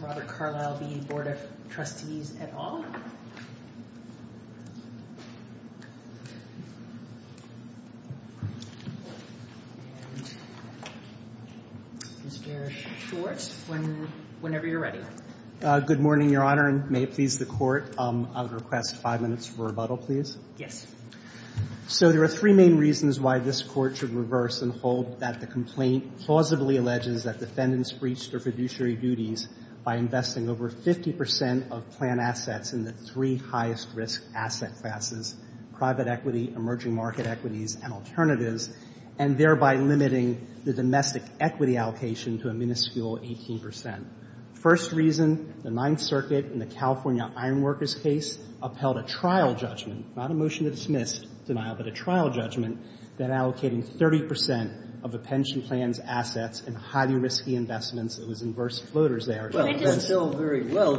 Robert Carlisle v. Board of Trustees et al. Mr. Schwartz, whenever you're ready. Good morning, Your Honor, and may it please the Court, I would request five minutes for rebuttal, please. Yes. So there are three main reasons why this Court should reverse and hold that the complaint plausibly alleges that defendants breached their fiduciary duties by investing over 50 percent of plan assets in the three highest risk asset classes, private equity, emerging market equities, and alternatives, and thereby limiting the domestic equity allocation to a minuscule 18 percent. First reason, the Ninth Circuit in the California Ironworkers case upheld a trial judgment, not a motion to dismiss denial, but a trial judgment, that allocating 30 percent of a pension plan's assets in highly risky investments, it was inverse floaters there. Well, I can tell very well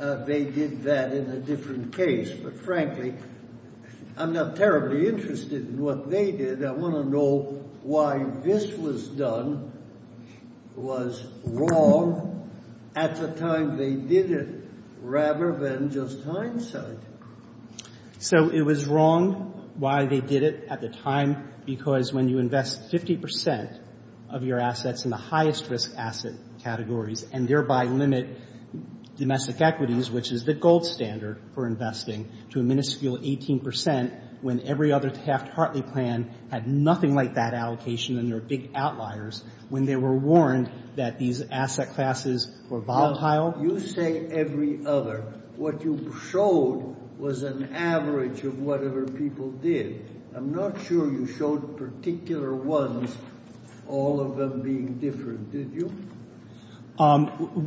that they did that in a different case. But, frankly, I'm not terribly interested in what they did. I want to know why this was done was wrong at the time they did it rather than just hindsight. So it was wrong why they did it at the time because when you invest 50 percent of your assets in the highest risk asset categories and thereby limit domestic equities, which is the gold standard for investing, to a minuscule 18 percent when every other Taft-Hartley plan had nothing like that allocation and they're big outliers, when they were warned that these asset classes were volatile. You say every other. What you showed was an average of whatever people did. I'm not sure you showed particular ones, all of them being different, did you?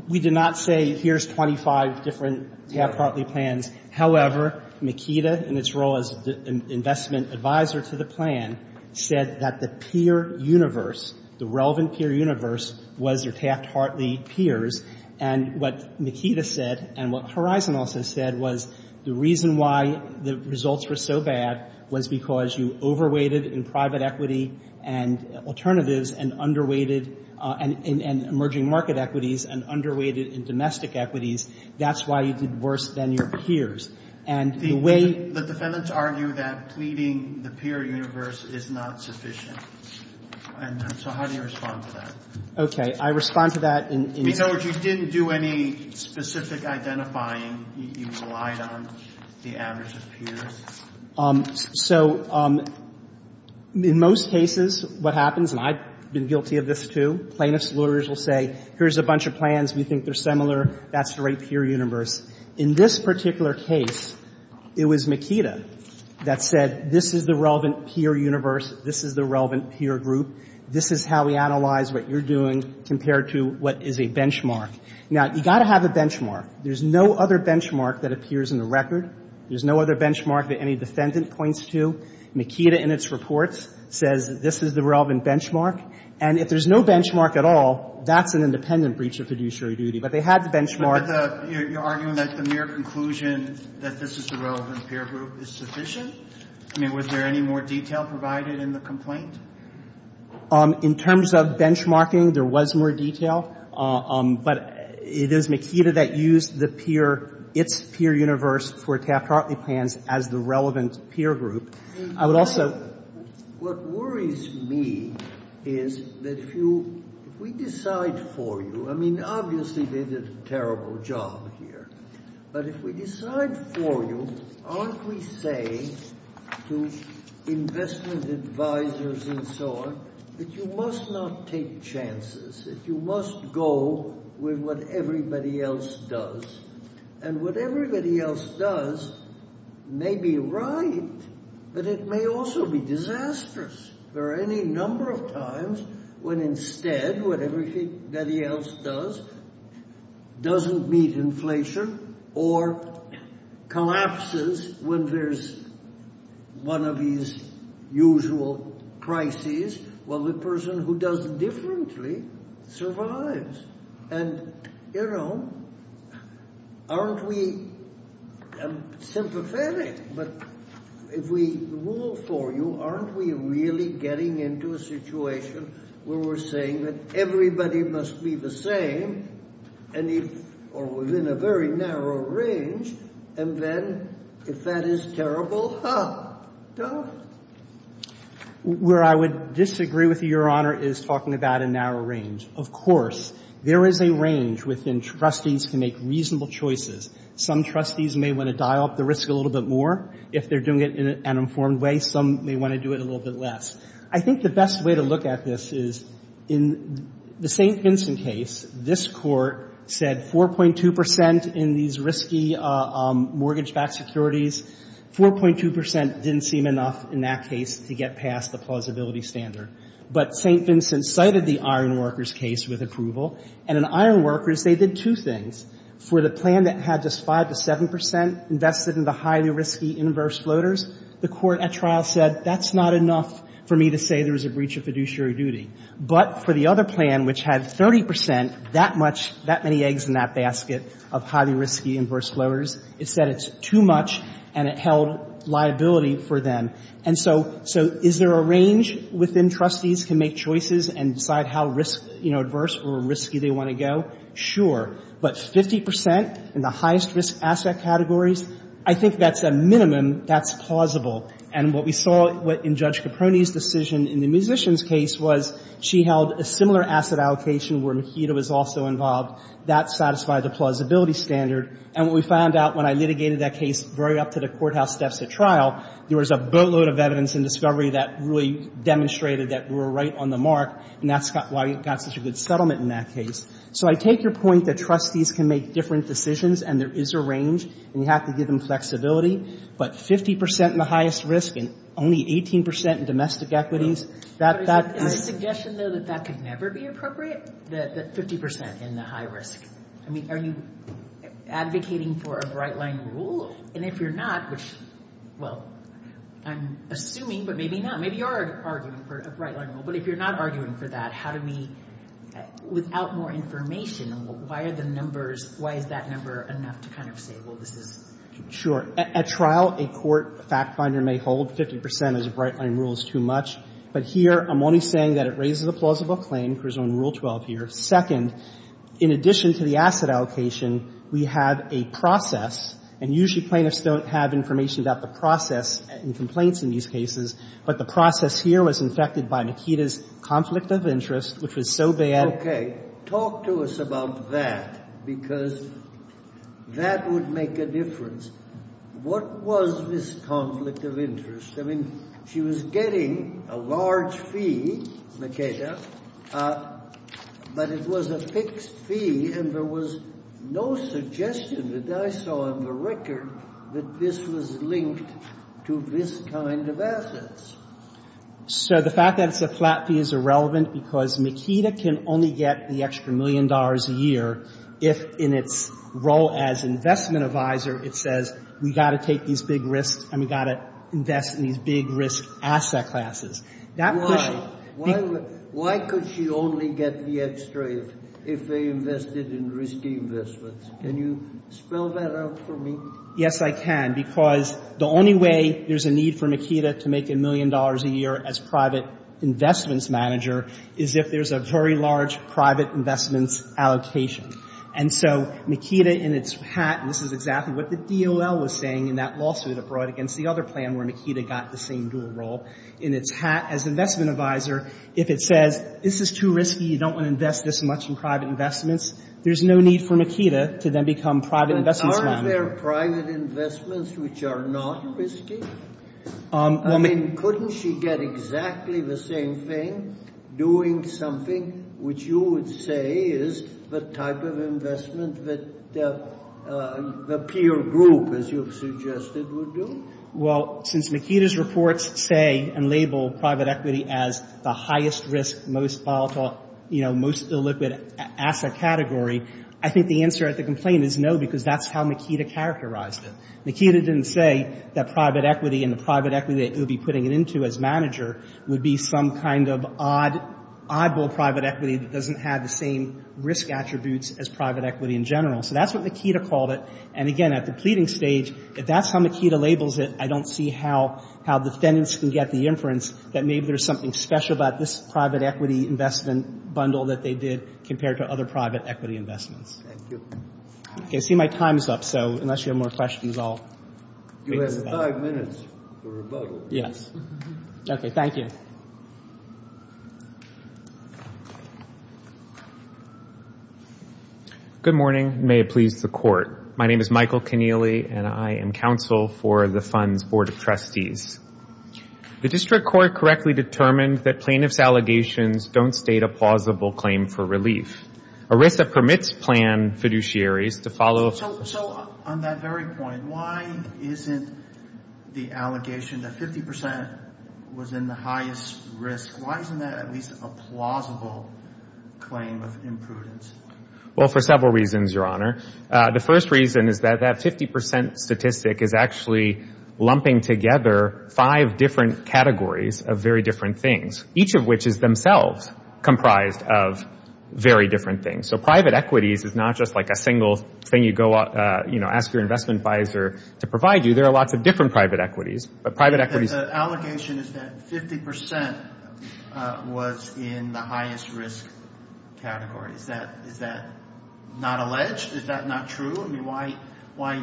We did not say here's 25 different Taft-Hartley plans. However, Makita, in its role as investment advisor to the plan, said that the peer universe was your Taft-Hartley peers. And what Makita said and what Horizon also said was the reason why the results were so bad was because you over-weighted in private equity and alternatives and under-weighted in emerging market equities and under-weighted in domestic equities. That's why you did worse than your peers. And the way the defendants argue that pleading the peer universe is not sufficient. And so how do you respond to that? Okay. I respond to that in the case. In other words, you didn't do any specific identifying. You relied on the average of peers. So in most cases, what happens, and I've been guilty of this, too, plaintiffs' lawyers will say here's a bunch of plans, we think they're similar, that's the right peer universe. In this particular case, it was Makita that said this is the relevant peer universe, this is the relevant peer group, this is how we analyze what you're doing compared to what is a benchmark. Now, you've got to have a benchmark. There's no other benchmark that appears in the record. There's no other benchmark that any defendant points to. Makita in its reports says this is the relevant benchmark. And if there's no benchmark at all, that's an independent breach of fiduciary duty. But they had the benchmark. But you're arguing that the mere conclusion that this is the relevant peer group is sufficient? I mean, was there any more detail provided in the complaint? In terms of benchmarking, there was more detail. But it is Makita that used the peer, its peer universe for Taft-Hartley plans as the relevant peer group. I would also ---- What worries me is that if you, if we decide for you, I mean, obviously they did a terrible job here, but if we decide for you, aren't we saying to investment advisors and so on that you must not take chances, that you must go with what everybody else does? And what everybody else does may be right, but it may also be disastrous. There are any number of times when instead what everybody else does doesn't meet inflation or collapses when there's one of these usual crises while the person who does it differently survives. And, you know, aren't we sympathetic? But if we rule for you, aren't we really getting into a situation where we're saying that everybody must be the same and if, or within a very narrow range, and then if that is terrible, huh, duh? Where I would disagree with you, Your Honor, is talking about a narrow range. Of course, there is a range within trustees to make reasonable choices. Some trustees may want to dial up the risk a little bit more. If they're doing it in an informed way, some may want to do it a little bit less. I think the best way to look at this is in the St. Vincent case, this Court said 4.2 percent in these risky mortgage-backed securities, 4.2 percent didn't seem enough in that case to get past the plausibility standard. But St. Vincent cited the iron workers case with approval. And in iron workers, they did two things. For the plan that had just 5 to 7 percent invested in the highly risky inverse floaters, the court at trial said that's not enough for me to say there was a breach of fiduciary duty. But for the other plan, which had 30 percent, that much, that many eggs in that basket of highly risky inverse floaters, it said it's too much and it held liability for them. And so is there a range within trustees to make choices and decide how risk, you know, inverse or risky they want to go? Sure. But 50 percent in the highest risk asset categories, I think that's a minimum that's plausible. And what we saw in Judge Caproni's decision in the musicians case was she held a similar asset allocation where Mojito was also involved. That satisfied the plausibility standard. And what we found out when I litigated that case very up to the courthouse steps at trial, there was a boatload of evidence and discovery that really demonstrated that we were right on the mark. And that's why we got such a good settlement in that case. So I take your point that trustees can make different decisions and there is a range and you have to give them flexibility. But 50 percent in the highest risk and only 18 percent in domestic equities, that's not the case. But is the suggestion, though, that that could never be appropriate, that 50 percent in the high risk? I mean, are you advocating for a bright-line rule? And if you're not, which, well, I'm assuming, but maybe not. Maybe you are arguing for a bright-line rule. But if you're not arguing for that, how do we, without more information, why are the numbers, why is that number enough to kind of say, well, this is? Sure. At trial, a court fact finder may hold 50 percent as a bright-line rule is too much. But here, I'm only saying that it raises the plausible claim. There's no rule 12 here. Second, in addition to the asset allocation, we have a process. And usually plaintiffs don't have information about the process and complaints in these cases. But the process here was infected by Nikita's conflict of interest, which was so bad that it was so bad. Talk to us about that, because that would make a difference. What was this conflict of interest? I mean, she was getting a large fee, Nikita, but it was a fixed fee, and there was no suggestion that I saw on the record that this was linked to this kind of assets. So the fact that it's a flat fee is irrelevant because Nikita can only get the extra million dollars a year if, in its role as investment advisor, it says we've got to take these big risks and we've got to invest in these big risk asset classes. Why? Why could she only get the extra if they invested in risky investments? Can you spell that out for me? Yes, I can. Because the only way there's a need for Nikita to make a million dollars a year as private investments manager is if there's a very large private investments allocation. And so Nikita, in its hat, and this is exactly what the DOL was saying in that lawsuit abroad against the other plan where Nikita got the same dual role. In its hat, as investment advisor, if it says this is too risky, you don't want to invest this much in private investments, there's no need for Nikita to then become private investments manager. But aren't there private investments which are not risky? I mean, couldn't she get exactly the same thing doing something which you would say is the type of investment that the peer group, as you've suggested, would do? Well, since Nikita's reports say and label private equity as the highest risk, most volatile, you know, most illiquid asset category, I think the answer at the complaint is no, because that's how Nikita characterized it. Nikita didn't say that private equity and the private equity that you'll be putting it into as manager would be some kind of oddball private equity that doesn't have the same risk attributes as private equity in general. So that's what Nikita called it. And, again, at the pleading stage, if that's how Nikita labels it, I don't see how defendants can get the inference that maybe there's something special about this private equity investment bundle that they did compared to other private equity investments. Thank you. Okay. I see my time is up, so unless you have more questions, I'll wait. You have five minutes for rebuttal. Yes. Okay. Thank you. Good morning. May it please the Court. My name is Michael Kennealy, and I am counsel for the Fund's Board of Trustees. The district court correctly determined that plaintiff's allegations don't state a plausible claim for relief. ERISA permits plan fiduciaries to follow. So on that very point, why isn't the allegation that 50 percent was in the highest risk, why isn't that at least a plausible claim of imprudence? Well, for several reasons, Your Honor. The first reason is that that 50 percent statistic is actually lumping together five different categories of very different things, each of which is themselves comprised of very different things. So private equities is not just like a single thing you go ask your investment advisor to provide you. There are lots of different private equities. The allegation is that 50 percent was in the highest risk category. Is that not alleged? Is that not true? I mean, why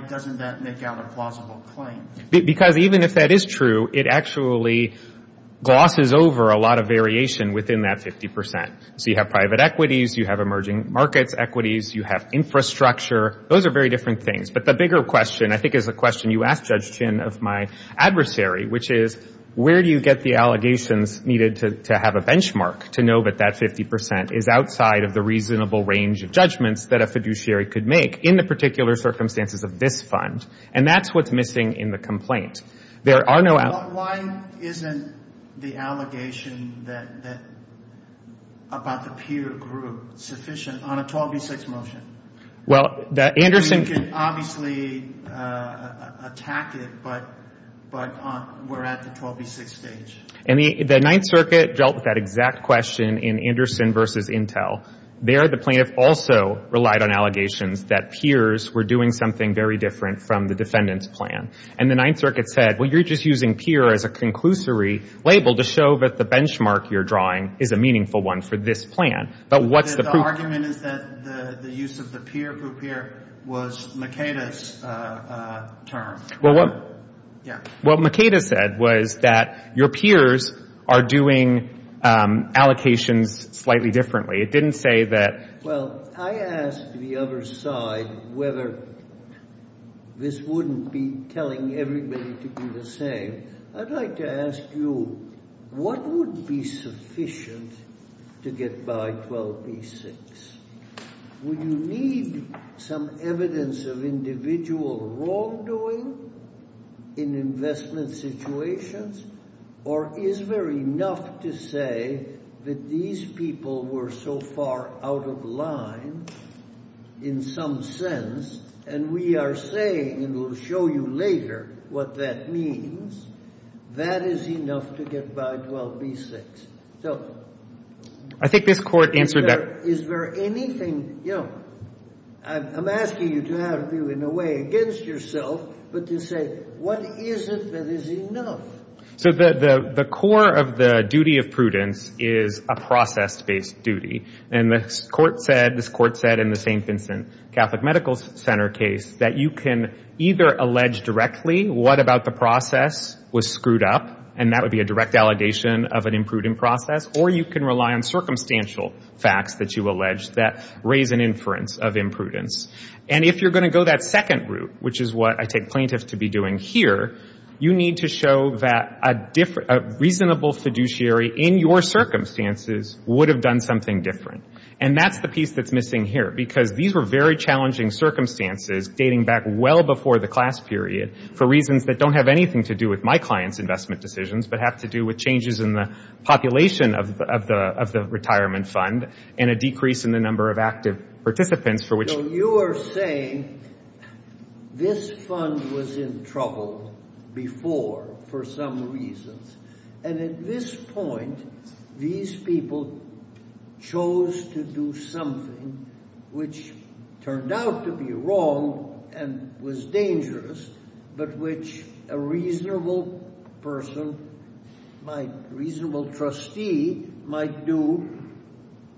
doesn't that make out a plausible claim? Because even if that is true, it actually glosses over a lot of variation within that 50 percent. So you have private equities, you have emerging markets equities, you have infrastructure. Those are very different things. But the bigger question I think is a question you asked Judge Chin of my adversary, which is where do you get the allegations needed to have a benchmark to know that that 50 percent is outside of the reasonable range of judgments that a fiduciary could make in the particular circumstances of this fund? And that's what's missing in the complaint. Why isn't the allegation about the peer group sufficient on a 12B6 motion? You can obviously attack it, but we're at the 12B6 stage. The Ninth Circuit dealt with that exact question in Anderson v. Intel. There the plaintiff also relied on allegations that peers were doing something very different from the defendant's plan. And the Ninth Circuit said, well, you're just using peer as a conclusory label to show that the benchmark you're drawing is a meaningful one for this plan. But what's the proof? The argument is that the use of the peer group here was Makeda's term. Well, what Makeda said was that your peers are doing allocations slightly differently. Well, I asked the other side whether this wouldn't be telling everybody to do the same. I'd like to ask you, what would be sufficient to get by 12B6? Would you need some evidence of individual wrongdoing in investment situations? Or is there enough to say that these people were so far out of line in some sense, and we are saying, and we'll show you later what that means, that is enough to get by 12B6? So is there anything, you know, I'm asking you to have you in a way against yourself, but to say, what is it that is enough? So the core of the duty of prudence is a process-based duty. And the court said, this court said in the St. Vincent Catholic Medical Center case, that you can either allege directly what about the process was screwed up, and that would be a direct allegation of an imprudent process, or you can rely on circumstantial facts that you allege that raise an inference of imprudence. And if you're going to go that second route, which is what I take plaintiffs to be doing here, you need to show that a reasonable fiduciary in your circumstances would have done something different. And that's the piece that's missing here, because these were very challenging circumstances dating back well before the class period for reasons that don't have anything to do with my client's investment decisions, but have to do with changes in the population of the retirement fund and a decrease in the number of active participants for which you are. You are saying this fund was in trouble before for some reasons. And at this point, these people chose to do something which turned out to be wrong and was dangerous, but which a reasonable person, a reasonable trustee might do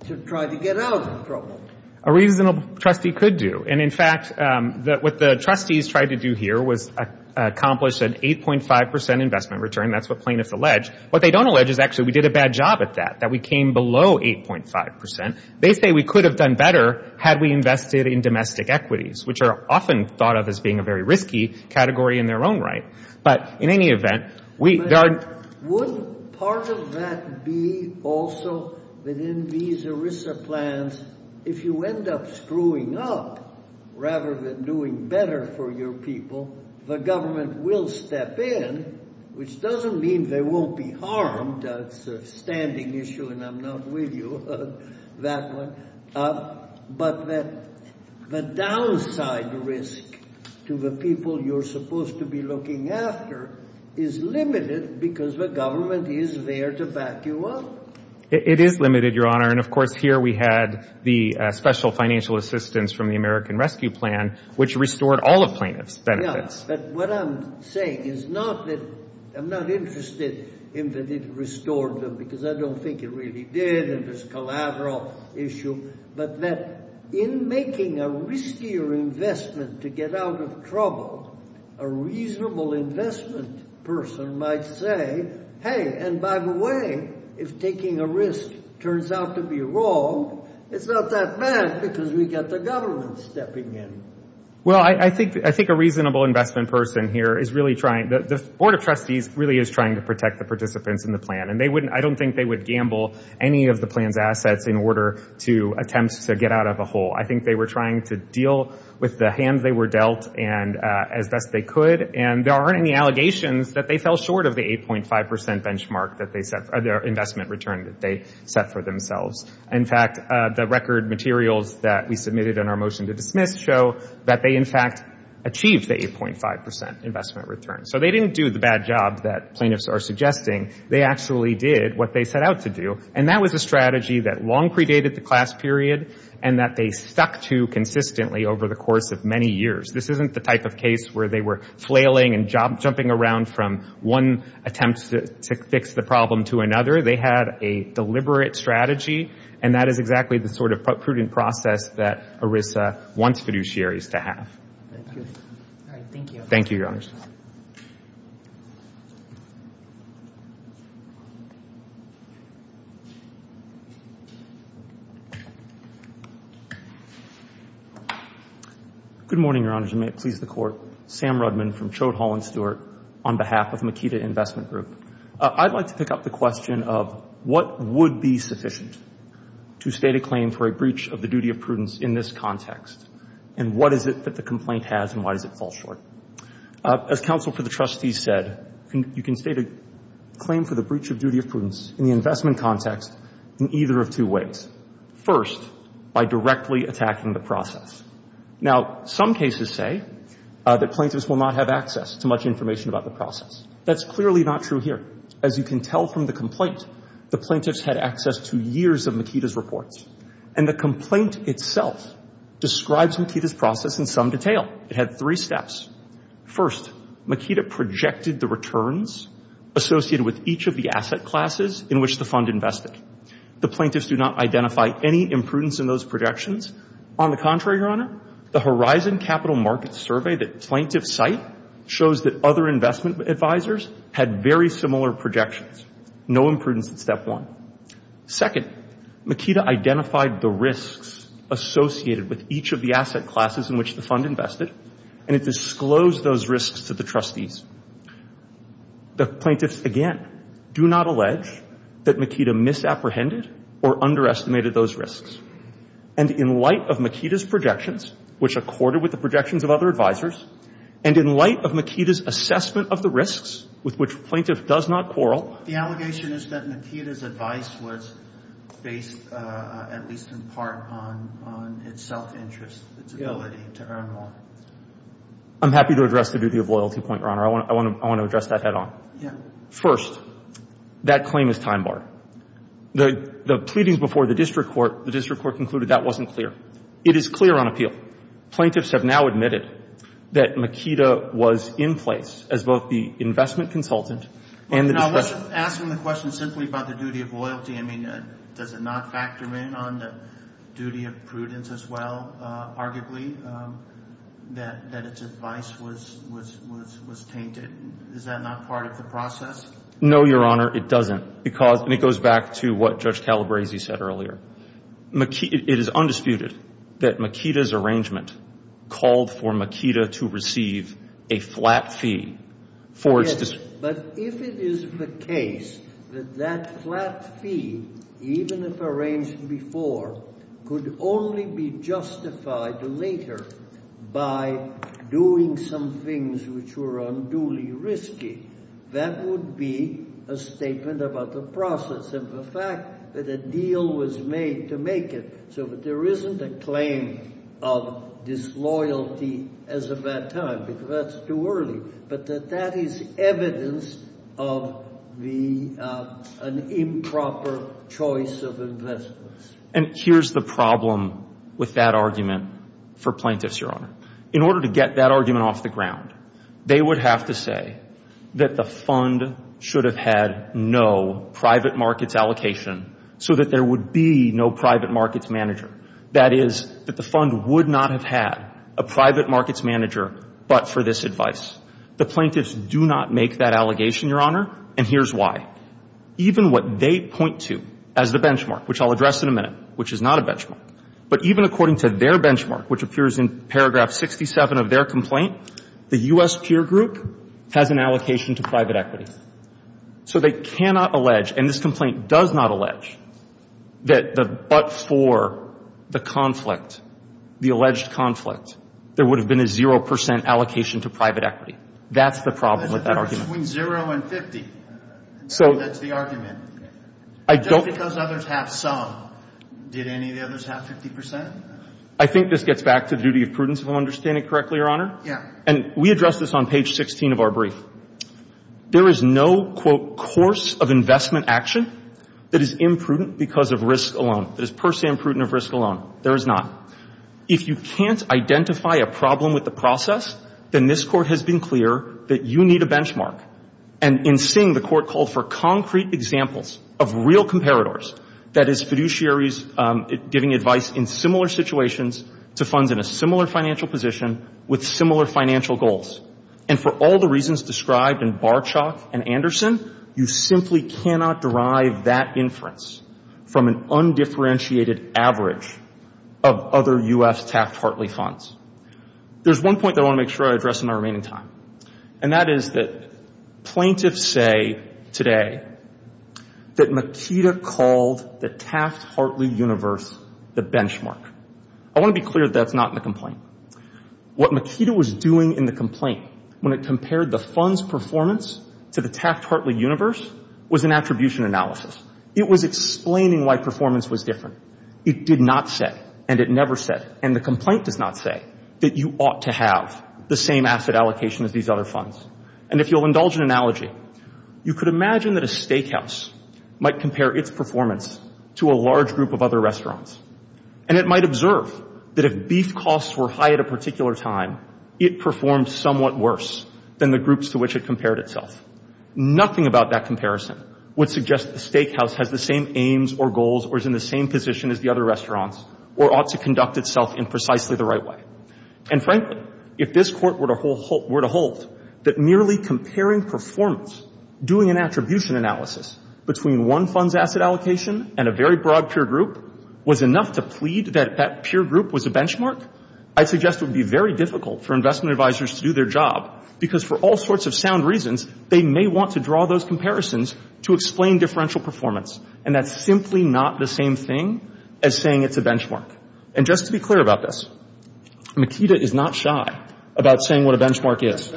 to try to get out of trouble. A reasonable trustee could do. And, in fact, what the trustees tried to do here was accomplish an 8.5 percent investment return. That's what plaintiffs allege. What they don't allege is actually we did a bad job at that, that we came below 8.5 percent. They say we could have done better had we invested in domestic equities, which are often thought of as being a very risky category in their own right. But in any event, we – Would part of that be also that in these ERISA plans, if you end up screwing up rather than doing better for your people, the government will step in, which doesn't mean they won't be harmed. That's a standing issue, and I'm not with you on that one. But the downside risk to the people you're supposed to be looking after is limited because the government is there to back you up. It is limited, Your Honor. And, of course, here we had the special financial assistance from the American Rescue Plan, which restored all of plaintiffs' benefits. Yeah, but what I'm saying is not that – I'm not interested in that it restored them because I don't think it really did, and it's a collateral issue, but that in making a riskier investment to get out of trouble, a reasonable investment person might say, hey, and by the way, if taking a risk turns out to be wrong, it's not that bad because we've got the government stepping in. Well, I think a reasonable investment person here is really trying – the Board of Trustees really is trying to protect the participants in the plan, and they wouldn't – I don't think they would gamble any of the plan's assets in order to attempt to get out of a hole. I think they were trying to deal with the hand they were dealt as best they could, and there aren't any allegations that they fell short of the 8.5% investment return that they set for themselves. In fact, the record materials that we submitted in our motion to dismiss show that they, in fact, achieved the 8.5% investment return. So they didn't do the bad job that plaintiffs are suggesting. They actually did what they set out to do, and that was a strategy that long predated the class period and that they stuck to consistently over the course of many years. This isn't the type of case where they were flailing and jumping around from one attempt to fix the problem to another. They had a deliberate strategy, and that is exactly the sort of prudent process that ERISA wants fiduciaries to have. Thank you. Thank you, Your Honors. Good morning, Your Honors, and may it please the Court. Sam Rudman from Chode Hall and Stewart on behalf of Makita Investment Group. I'd like to pick up the question of what would be sufficient to state a claim for a breach of the duty of prudence in this context, and what is it that the complaint has, and why does it fall short? As counsel for the trustees said, you can state a claim for the breach of duty of prudence in the investment context in either of two ways. First, by directly attacking the process. Now, some cases say that plaintiffs will not have access to much information about the process. That's clearly not true here. As you can tell from the complaint, the plaintiffs had access to years of Makita's reports, and the complaint itself describes Makita's process in some detail. It had three steps. First, Makita projected the returns associated with each of the asset classes in which the fund invested. The plaintiffs do not identify any imprudence in those projections. On the contrary, Your Honor, the Horizon Capital Markets survey that plaintiffs cite shows that other investment advisors had very similar projections. No imprudence in step one. Second, Makita identified the risks associated with each of the asset classes in which the fund invested, and it disclosed those risks to the trustees. The plaintiffs, again, do not allege that Makita misapprehended or underestimated those risks. And in light of Makita's projections, which accorded with the projections of other advisors, and in light of Makita's assessment of the risks with which plaintiff does not quarrel, the allegation is that Makita's advice was based, at least in part, on its self-interest, its ability to earn more. I'm happy to address the duty of loyalty point, Your Honor. I want to address that head-on. First, that claim is time-barred. The pleadings before the district court, the district court concluded that wasn't clear. It is clear on appeal. Plaintiffs have now admitted that Makita was in place as both the investment consultant and the discretionary. I wasn't asking the question simply about the duty of loyalty. I mean, does it not factor in on the duty of prudence as well, arguably, that its advice was tainted? Is that not part of the process? No, Your Honor, it doesn't. And it goes back to what Judge Calabresi said earlier. It is undisputed that Makita's arrangement called for Makita to receive a flat fee. Yes, but if it is the case that that flat fee, even if arranged before, could only be justified later by doing some things which were unduly risky, that would be a statement about the process and the fact that a deal was made to make it so that there isn't a claim of disloyalty as of that time because that's too early, but that that is evidence of an improper choice of investments. And here's the problem with that argument for plaintiffs, Your Honor. In order to get that argument off the ground, they would have to say that the fund should have had no private markets allocation so that there would be no private markets manager. That is, that the fund would not have had a private markets manager but for this advice. The plaintiffs do not make that allegation, Your Honor, and here's why. Even what they point to as the benchmark, which I'll address in a minute, which is not a benchmark, but even according to their benchmark, which appears in paragraph 67 of their complaint, the U.S. Peer Group has an allocation to private equity. So they cannot allege, and this complaint does not allege, that but for the conflict, the alleged conflict, there would have been a 0 percent allocation to private equity. That's the problem with that argument. Between 0 and 50. So. That's the argument. I don't. Just because others have some, did any of the others have 50 percent? I think this gets back to the duty of prudence, if I'm understanding correctly, Your Honor. Yeah. And we address this on page 16 of our brief. There is no, quote, course of investment action that is imprudent because of risk alone, that is per se imprudent of risk alone. There is not. If you can't identify a problem with the process, then this Court has been clear that you need a benchmark. And in seeing the Court called for concrete examples of real comparators, that is, fiduciaries giving advice in similar situations to funds in a similar financial position with similar financial goals. And for all the reasons described in Barchok and Anderson, you simply cannot derive that inference from an undifferentiated average of other U.S. Taft-Hartley funds. There's one point that I want to make sure I address in my remaining time. And that is that plaintiffs say today that Makita called the Taft-Hartley universe the benchmark. I want to be clear that that's not in the complaint. What Makita was doing in the complaint when it compared the fund's performance to the Taft-Hartley universe was an attribution analysis. It was explaining why performance was different. It did not say, and it never said, and the complaint does not say, that you ought to have the same asset allocation as these other funds. And if you'll indulge an analogy, you could imagine that a steakhouse might compare its performance to a large group of other restaurants. And it might observe that if beef costs were high at a particular time, it performed somewhat worse than the groups to which it compared itself. Nothing about that comparison would suggest the steakhouse has the same aims or goals or is in the same position as the other restaurants or ought to conduct itself in precisely the right way. And frankly, if this Court were to hold that merely comparing performance, doing an attribution analysis between one fund's asset allocation and a very broad peer group was enough to plead that that peer group was a benchmark, I'd suggest it would be very difficult for investment advisors to do their job because for all sorts of sound reasons, they may want to draw those comparisons to explain differential performance. And that's simply not the same thing as saying it's a benchmark. And just to be clear about this, Makita is not shy about saying what a benchmark is.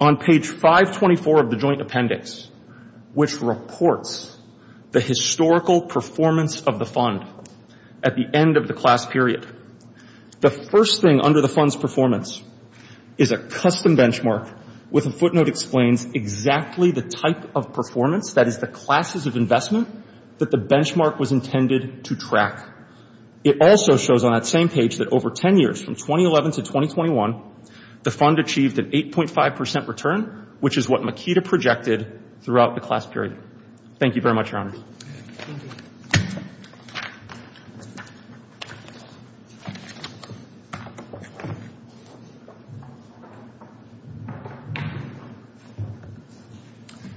On page 524 of the joint appendix, which reports the historical performance of the fund at the end of the class period, the first thing under the fund's performance is a custom benchmark with a footnote that explains exactly the type of performance, that is the classes of investment, that the benchmark was intended to track. It also shows on that same page that over 10 years, from 2011 to 2021, the fund achieved an 8.5 percent return, which is what Makita projected throughout the class period. Thank you very much, Your Honor.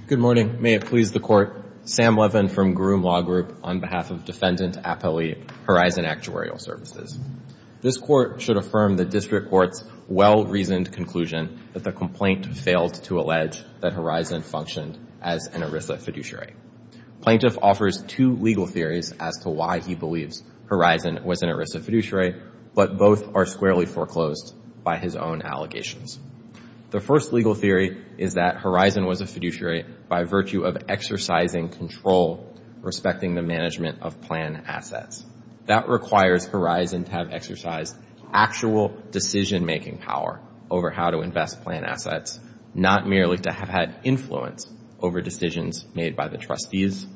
Good morning. May it please the Court. Sam Levin from Groom Law Group on behalf of Defendant Appellee Horizon Actuarial Services. This Court should affirm the District Court's well-reasoned conclusion that the complaint failed to allege that Horizon functioned as an ERISA fiduciary. Plaintiff offers two legal theories as to why he believes Horizon was an ERISA fiduciary, but both are squarely foreclosed by his own allegations. The first legal theory is that Horizon was a fiduciary by virtue of exercising control respecting the management of plan assets. That requires Horizon to have exercised actual decision-making power over how to invest plan assets, not merely to have had influence over decisions made by the trustees.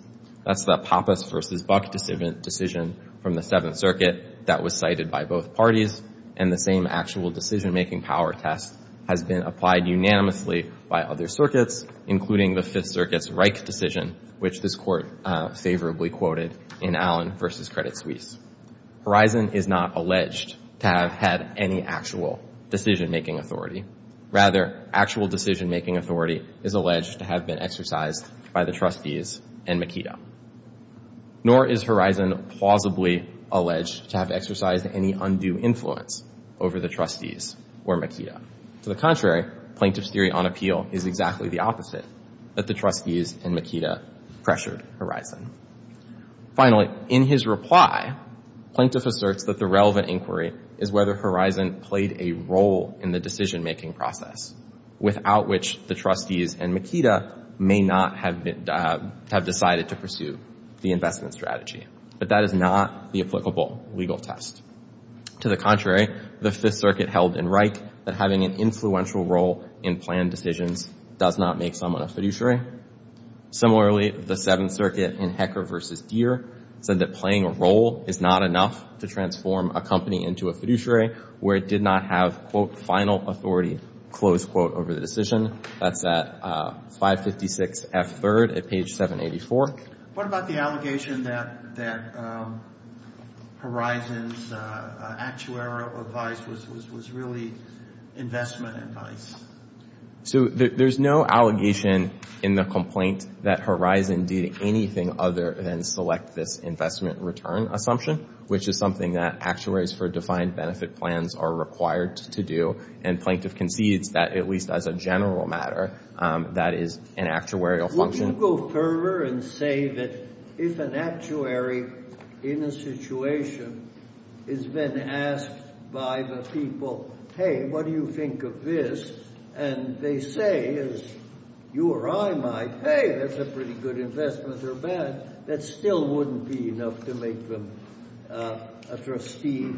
That's the Pappas v. Buck decision from the Seventh Circuit that was cited by both parties, and the same actual decision-making power test has been applied unanimously by other circuits, including the Fifth Circuit's Reich decision, which this Court favorably quoted in Allen v. Credit Suisse. Horizon is not alleged to have had any actual decision-making authority. Rather, actual decision-making authority is alleged to have been exercised by the trustees and Makeda. Nor is Horizon plausibly alleged to have exercised any undue influence over the trustees or Makeda. To the contrary, Plaintiff's theory on appeal is exactly the opposite, that the trustees and Makeda pressured Horizon. Finally, in his reply, Plaintiff asserts that the relevant inquiry is whether Horizon played a role in the decision-making process, without which the trustees and Makeda may not have decided to pursue the investment strategy. But that is not the applicable legal test. To the contrary, the Fifth Circuit held in Reich that having an influential role in planned decisions does not make someone a fiduciary. Similarly, the Seventh Circuit in Hecker v. Deere said that playing a role is not enough to transform a company into a fiduciary where it did not have, quote, final authority, close quote, over the decision. That's at 556 F. 3rd at page 784. What about the allegation that Horizon's actuarial advice was really investment advice? So there's no allegation in the complaint that Horizon did anything other than select this investment return assumption, which is something that actuaries for defined benefit plans are required to do. And Plaintiff concedes that, at least as a general matter, that is an actuarial function. Would you go further and say that if an actuary in a situation has been asked by the people, hey, what do you think of this, and they say, as you or I might, hey, that's a pretty good investment or bad, that still wouldn't be enough to make them a trustee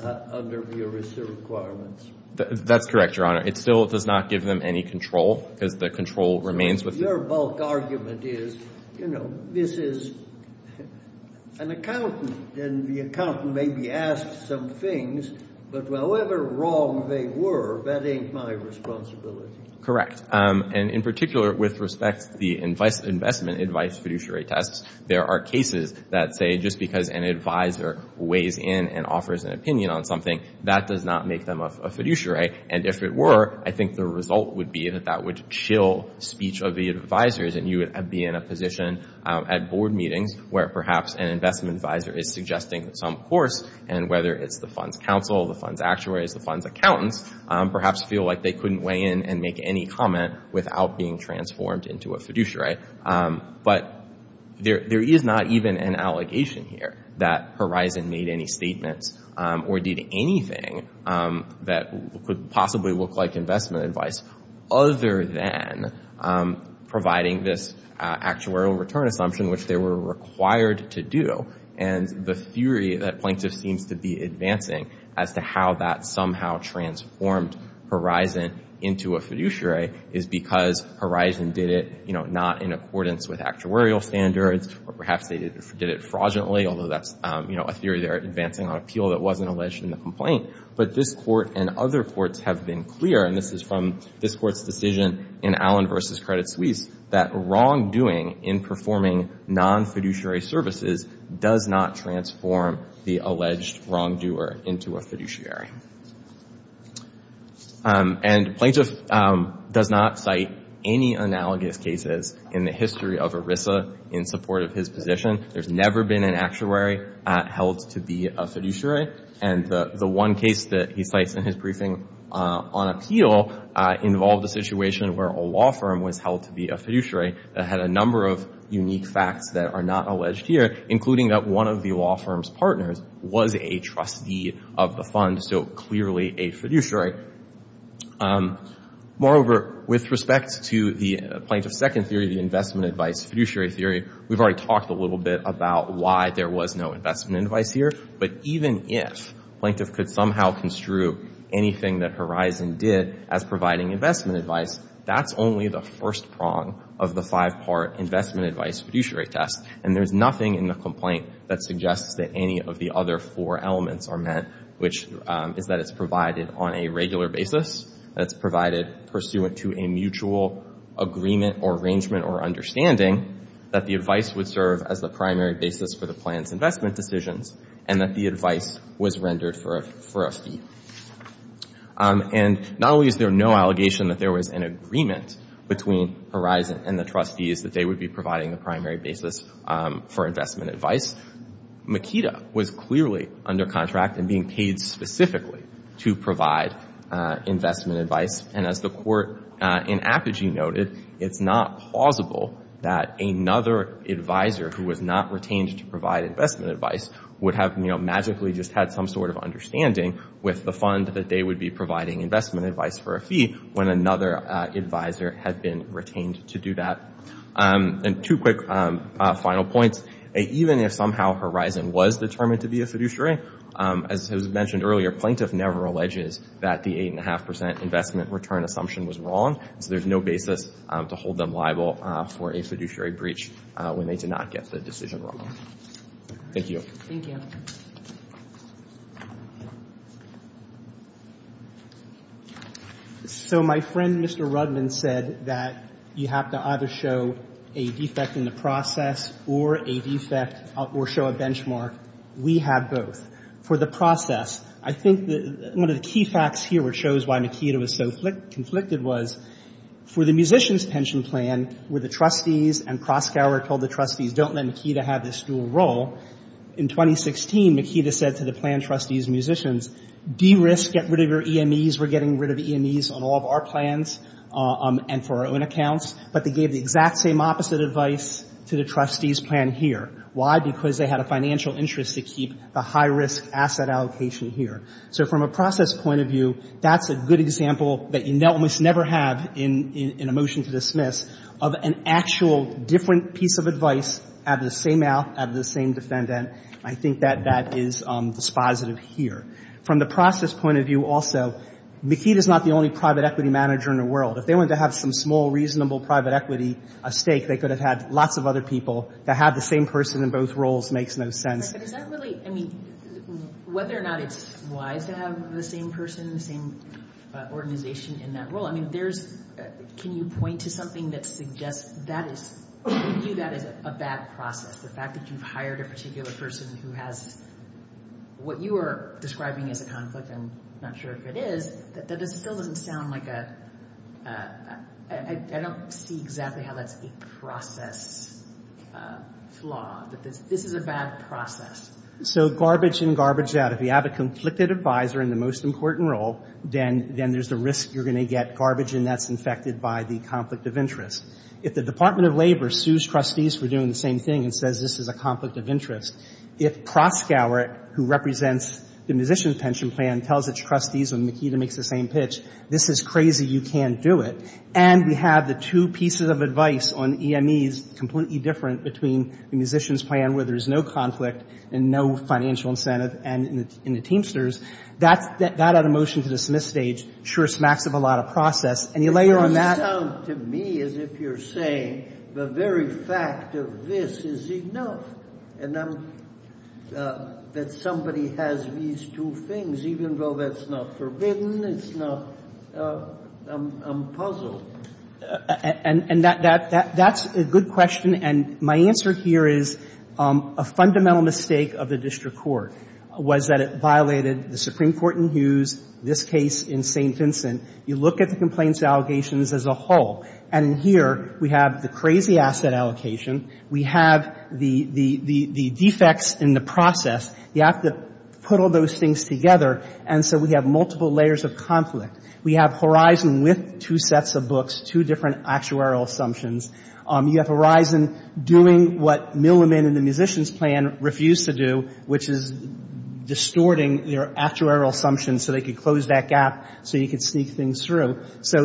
under mere reserve requirements? That's correct, Your Honor. It still does not give them any control because the control remains with them. Your bulk argument is, you know, this is an accountant, and the accountant maybe asked some things, but however wrong they were, that ain't my responsibility. Correct. And in particular, with respect to the investment advice fiduciary tests, there are cases that say just because an advisor weighs in and offers an opinion on something, that does not make them a fiduciary. And if it were, I think the result would be that that would chill speech of the advisors, and you would be in a position at board meetings where perhaps an investment advisor is suggesting some course, and whether it's the fund's counsel, the fund's actuaries, the fund's accountants, perhaps feel like they couldn't weigh in and make any comment without being transformed into a fiduciary. But there is not even an allegation here that Horizon made any statements or did anything that could possibly look like investment advice, other than providing this actuarial return assumption, which they were required to do, and the theory that Plaintiff seems to be advancing as to how that somehow transformed Horizon into a fiduciary is because Horizon did it, you know, not in accordance with actuarial standards, or perhaps they did it fraudulently, although that's, you know, a theory they're advancing on appeal that wasn't alleged in the complaint. But this Court and other courts have been clear, and this is from this Court's decision in Allen v. Credit Suisse, that wrongdoing in performing non-fiduciary services does not transform the alleged wrongdoer into a fiduciary. And Plaintiff does not cite any analogous cases in the history of ERISA in support of his position. There's never been an actuary held to be a fiduciary, and the one case that he cites in his briefing on appeal involved a situation where a law firm was held to be a fiduciary that had a number of unique facts that are not alleged here, including that one of the law firm's partners was a trustee of the fund, so clearly a fiduciary. Moreover, with respect to the Plaintiff's second theory, the investment advice fiduciary theory, we've already talked a little bit about why there was no investment advice here, but even if Plaintiff could somehow construe anything that Horizon did as providing investment advice, that's only the first prong of the five-part investment advice fiduciary test. And there's nothing in the complaint that suggests that any of the other four elements are met, which is that it's provided on a regular basis, that it's provided pursuant to a mutual agreement or arrangement or understanding that the advice would serve as the primary basis for the plan's investment decisions and that the advice was rendered for a fee. And not only is there no allegation that there was an agreement between Horizon and the trustees that they would be providing the primary basis for investment advice, Makeda was clearly under contract and being paid specifically to provide investment advice, and as the court in Apogee noted, it's not plausible that another advisor who was not retained to provide investment advice would have magically just had some sort of understanding with the fund that they would be providing investment advice for a fee when another advisor had been retained to do that. And two quick final points. Even if somehow Horizon was determined to be a fiduciary, as was mentioned earlier, the plaintiff never alleges that the 8.5% investment return assumption was wrong, so there's no basis to hold them liable for a fiduciary breach when they did not get the decision wrong. Thank you. Thank you. So my friend, Mr. Rudman, said that you have to either show a defect in the process or a defect or show a benchmark. We have both. For the process, I think one of the key facts here which shows why Makeda was so conflicted was for the musician's pension plan where the trustees and Kroskauer told the trustees, don't let Makeda have this dual role, in 2016, Makeda said to the plan trustees and musicians, de-risk, get rid of your EMEs, we're getting rid of EMEs on all of our plans and for our own accounts, but they gave the exact same opposite advice to the trustees' plan here. Why? Because they had a financial interest to keep the high-risk asset allocation here. So from a process point of view, that's a good example that you almost never have in a motion to dismiss of an actual different piece of advice out of the same mouth, out of the same defendant. I think that that is dispositive here. From the process point of view also, Makeda is not the only private equity manager in the world. If they wanted to have some small, reasonable private equity stake, they could have had lots of other people. To have the same person in both roles makes no sense. But is that really, I mean, whether or not it's wise to have the same person, the same organization in that role, I mean, there's, can you point to something that suggests that is, to you that is a bad process, the fact that you've hired a particular person who has what you are describing as a conflict, and I'm not sure if it is, that still doesn't sound like a, I don't see exactly how that's a process flaw, that this is a bad process. So garbage in, garbage out. If you have a conflicted advisor in the most important role, then there's the risk you're going to get garbage in that's infected by the conflict of interest. If the Department of Labor sues trustees for doing the same thing and says this is a conflict of interest, if Proskauer, who represents the Musician's Pension Plan, tells its trustees when Makeda makes the same pitch, this is crazy, you can't do it, and we have the two pieces of advice on EMEs completely different between the Musician's Plan where there's no conflict and no financial incentive and the Teamsters, that out of motion to dismiss stage sure smacks up a lot of process. And you layer on that — And I'm — that somebody has these two things, even though that's not forbidden, it's not — I'm puzzled. And that's a good question, and my answer here is a fundamental mistake of the district court was that it violated the Supreme Court in Hughes, this case in St. Vincent. You look at the complaints allegations as a whole, and here we have the crazy asset allocation. We have the defects in the process. You have to put all those things together, and so we have multiple layers of conflict. We have Horizon with two sets of books, two different actuarial assumptions. You have Horizon doing what Milliman and the Musician's Plan refused to do, which is distorting their actuarial assumptions so they could close that gap so you could sneak things through. So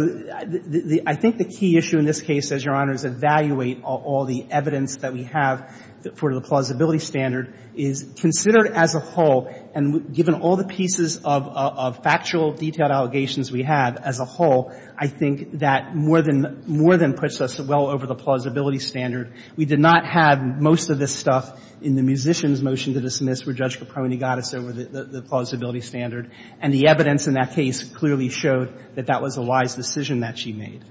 I think the key issue in this case, as Your Honors, evaluate all the evidence that we have for the plausibility standard is considered as a whole, and given all the pieces of factual detailed allegations we have as a whole, I think that more than — more than puts us well over the plausibility standard. We did not have most of this stuff in the Musician's motion to dismiss where Judge Caprone got us over the plausibility standard. And the evidence in that case clearly showed that that was a wise decision that she made.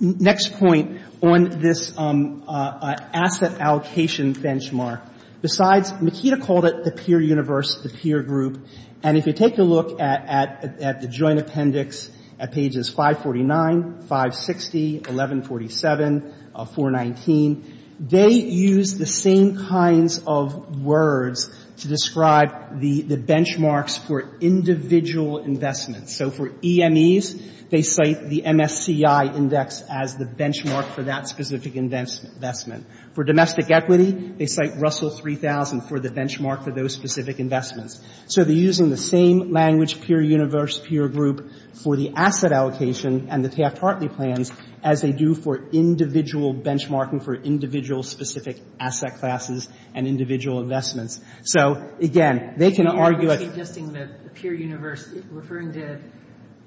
Next point on this asset allocation benchmark. Besides, Makita called it the peer universe, the peer group. And if you take a look at the joint appendix at pages 549, 560, 1147, 419, they use the same kinds of words to describe the benchmarks for individual investments. So for EMEs, they cite the MSCI index as the benchmark for that specific investment. For domestic equity, they cite Russell 3000 for the benchmark for those specific investments. So they're using the same language, peer universe, peer group, for the asset allocation and the Taft-Hartley plans as they do for individual benchmarking for individual specific asset classes and individual investments. So, again, they can argue that — Are you suggesting that the peer universe — referring to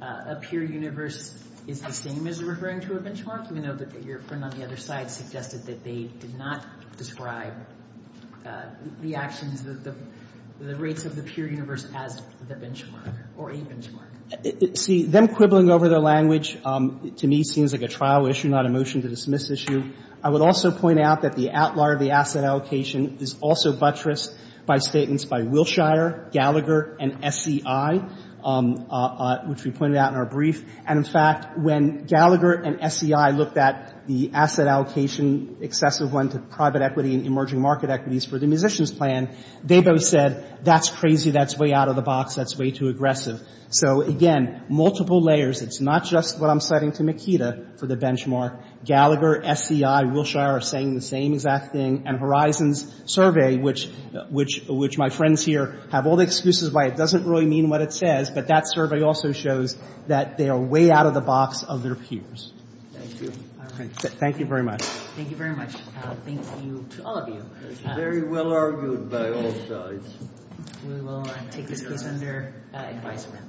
a peer universe is the same as referring to a benchmark? We know that your friend on the other side suggested that they did not describe the actions, the rates of the peer universe as the benchmark or a benchmark. See, them quibbling over their language to me seems like a trial issue, not a motion-to-dismiss issue. I would also point out that the outlier of the asset allocation is also buttressed by statements by Wilshire, Gallagher, and SCI, which we pointed out in our brief. And, in fact, when Gallagher and SCI looked at the asset allocation, excessive one to private equity and emerging market equities for the musician's plan, they both said, that's crazy, that's way out of the box, that's way too aggressive. So, again, multiple layers. It's not just what I'm citing to Makeda for the benchmark. Gallagher, SCI, Wilshire are saying the same exact thing. And Horizon's survey, which my friends here have all the excuses why it doesn't really mean what it says, but that survey also shows that they are way out of the box of their peers. Thank you. Thank you very much. Thank you very much. Thank you to all of you. Very well argued by all sides. We will take this case under advisement.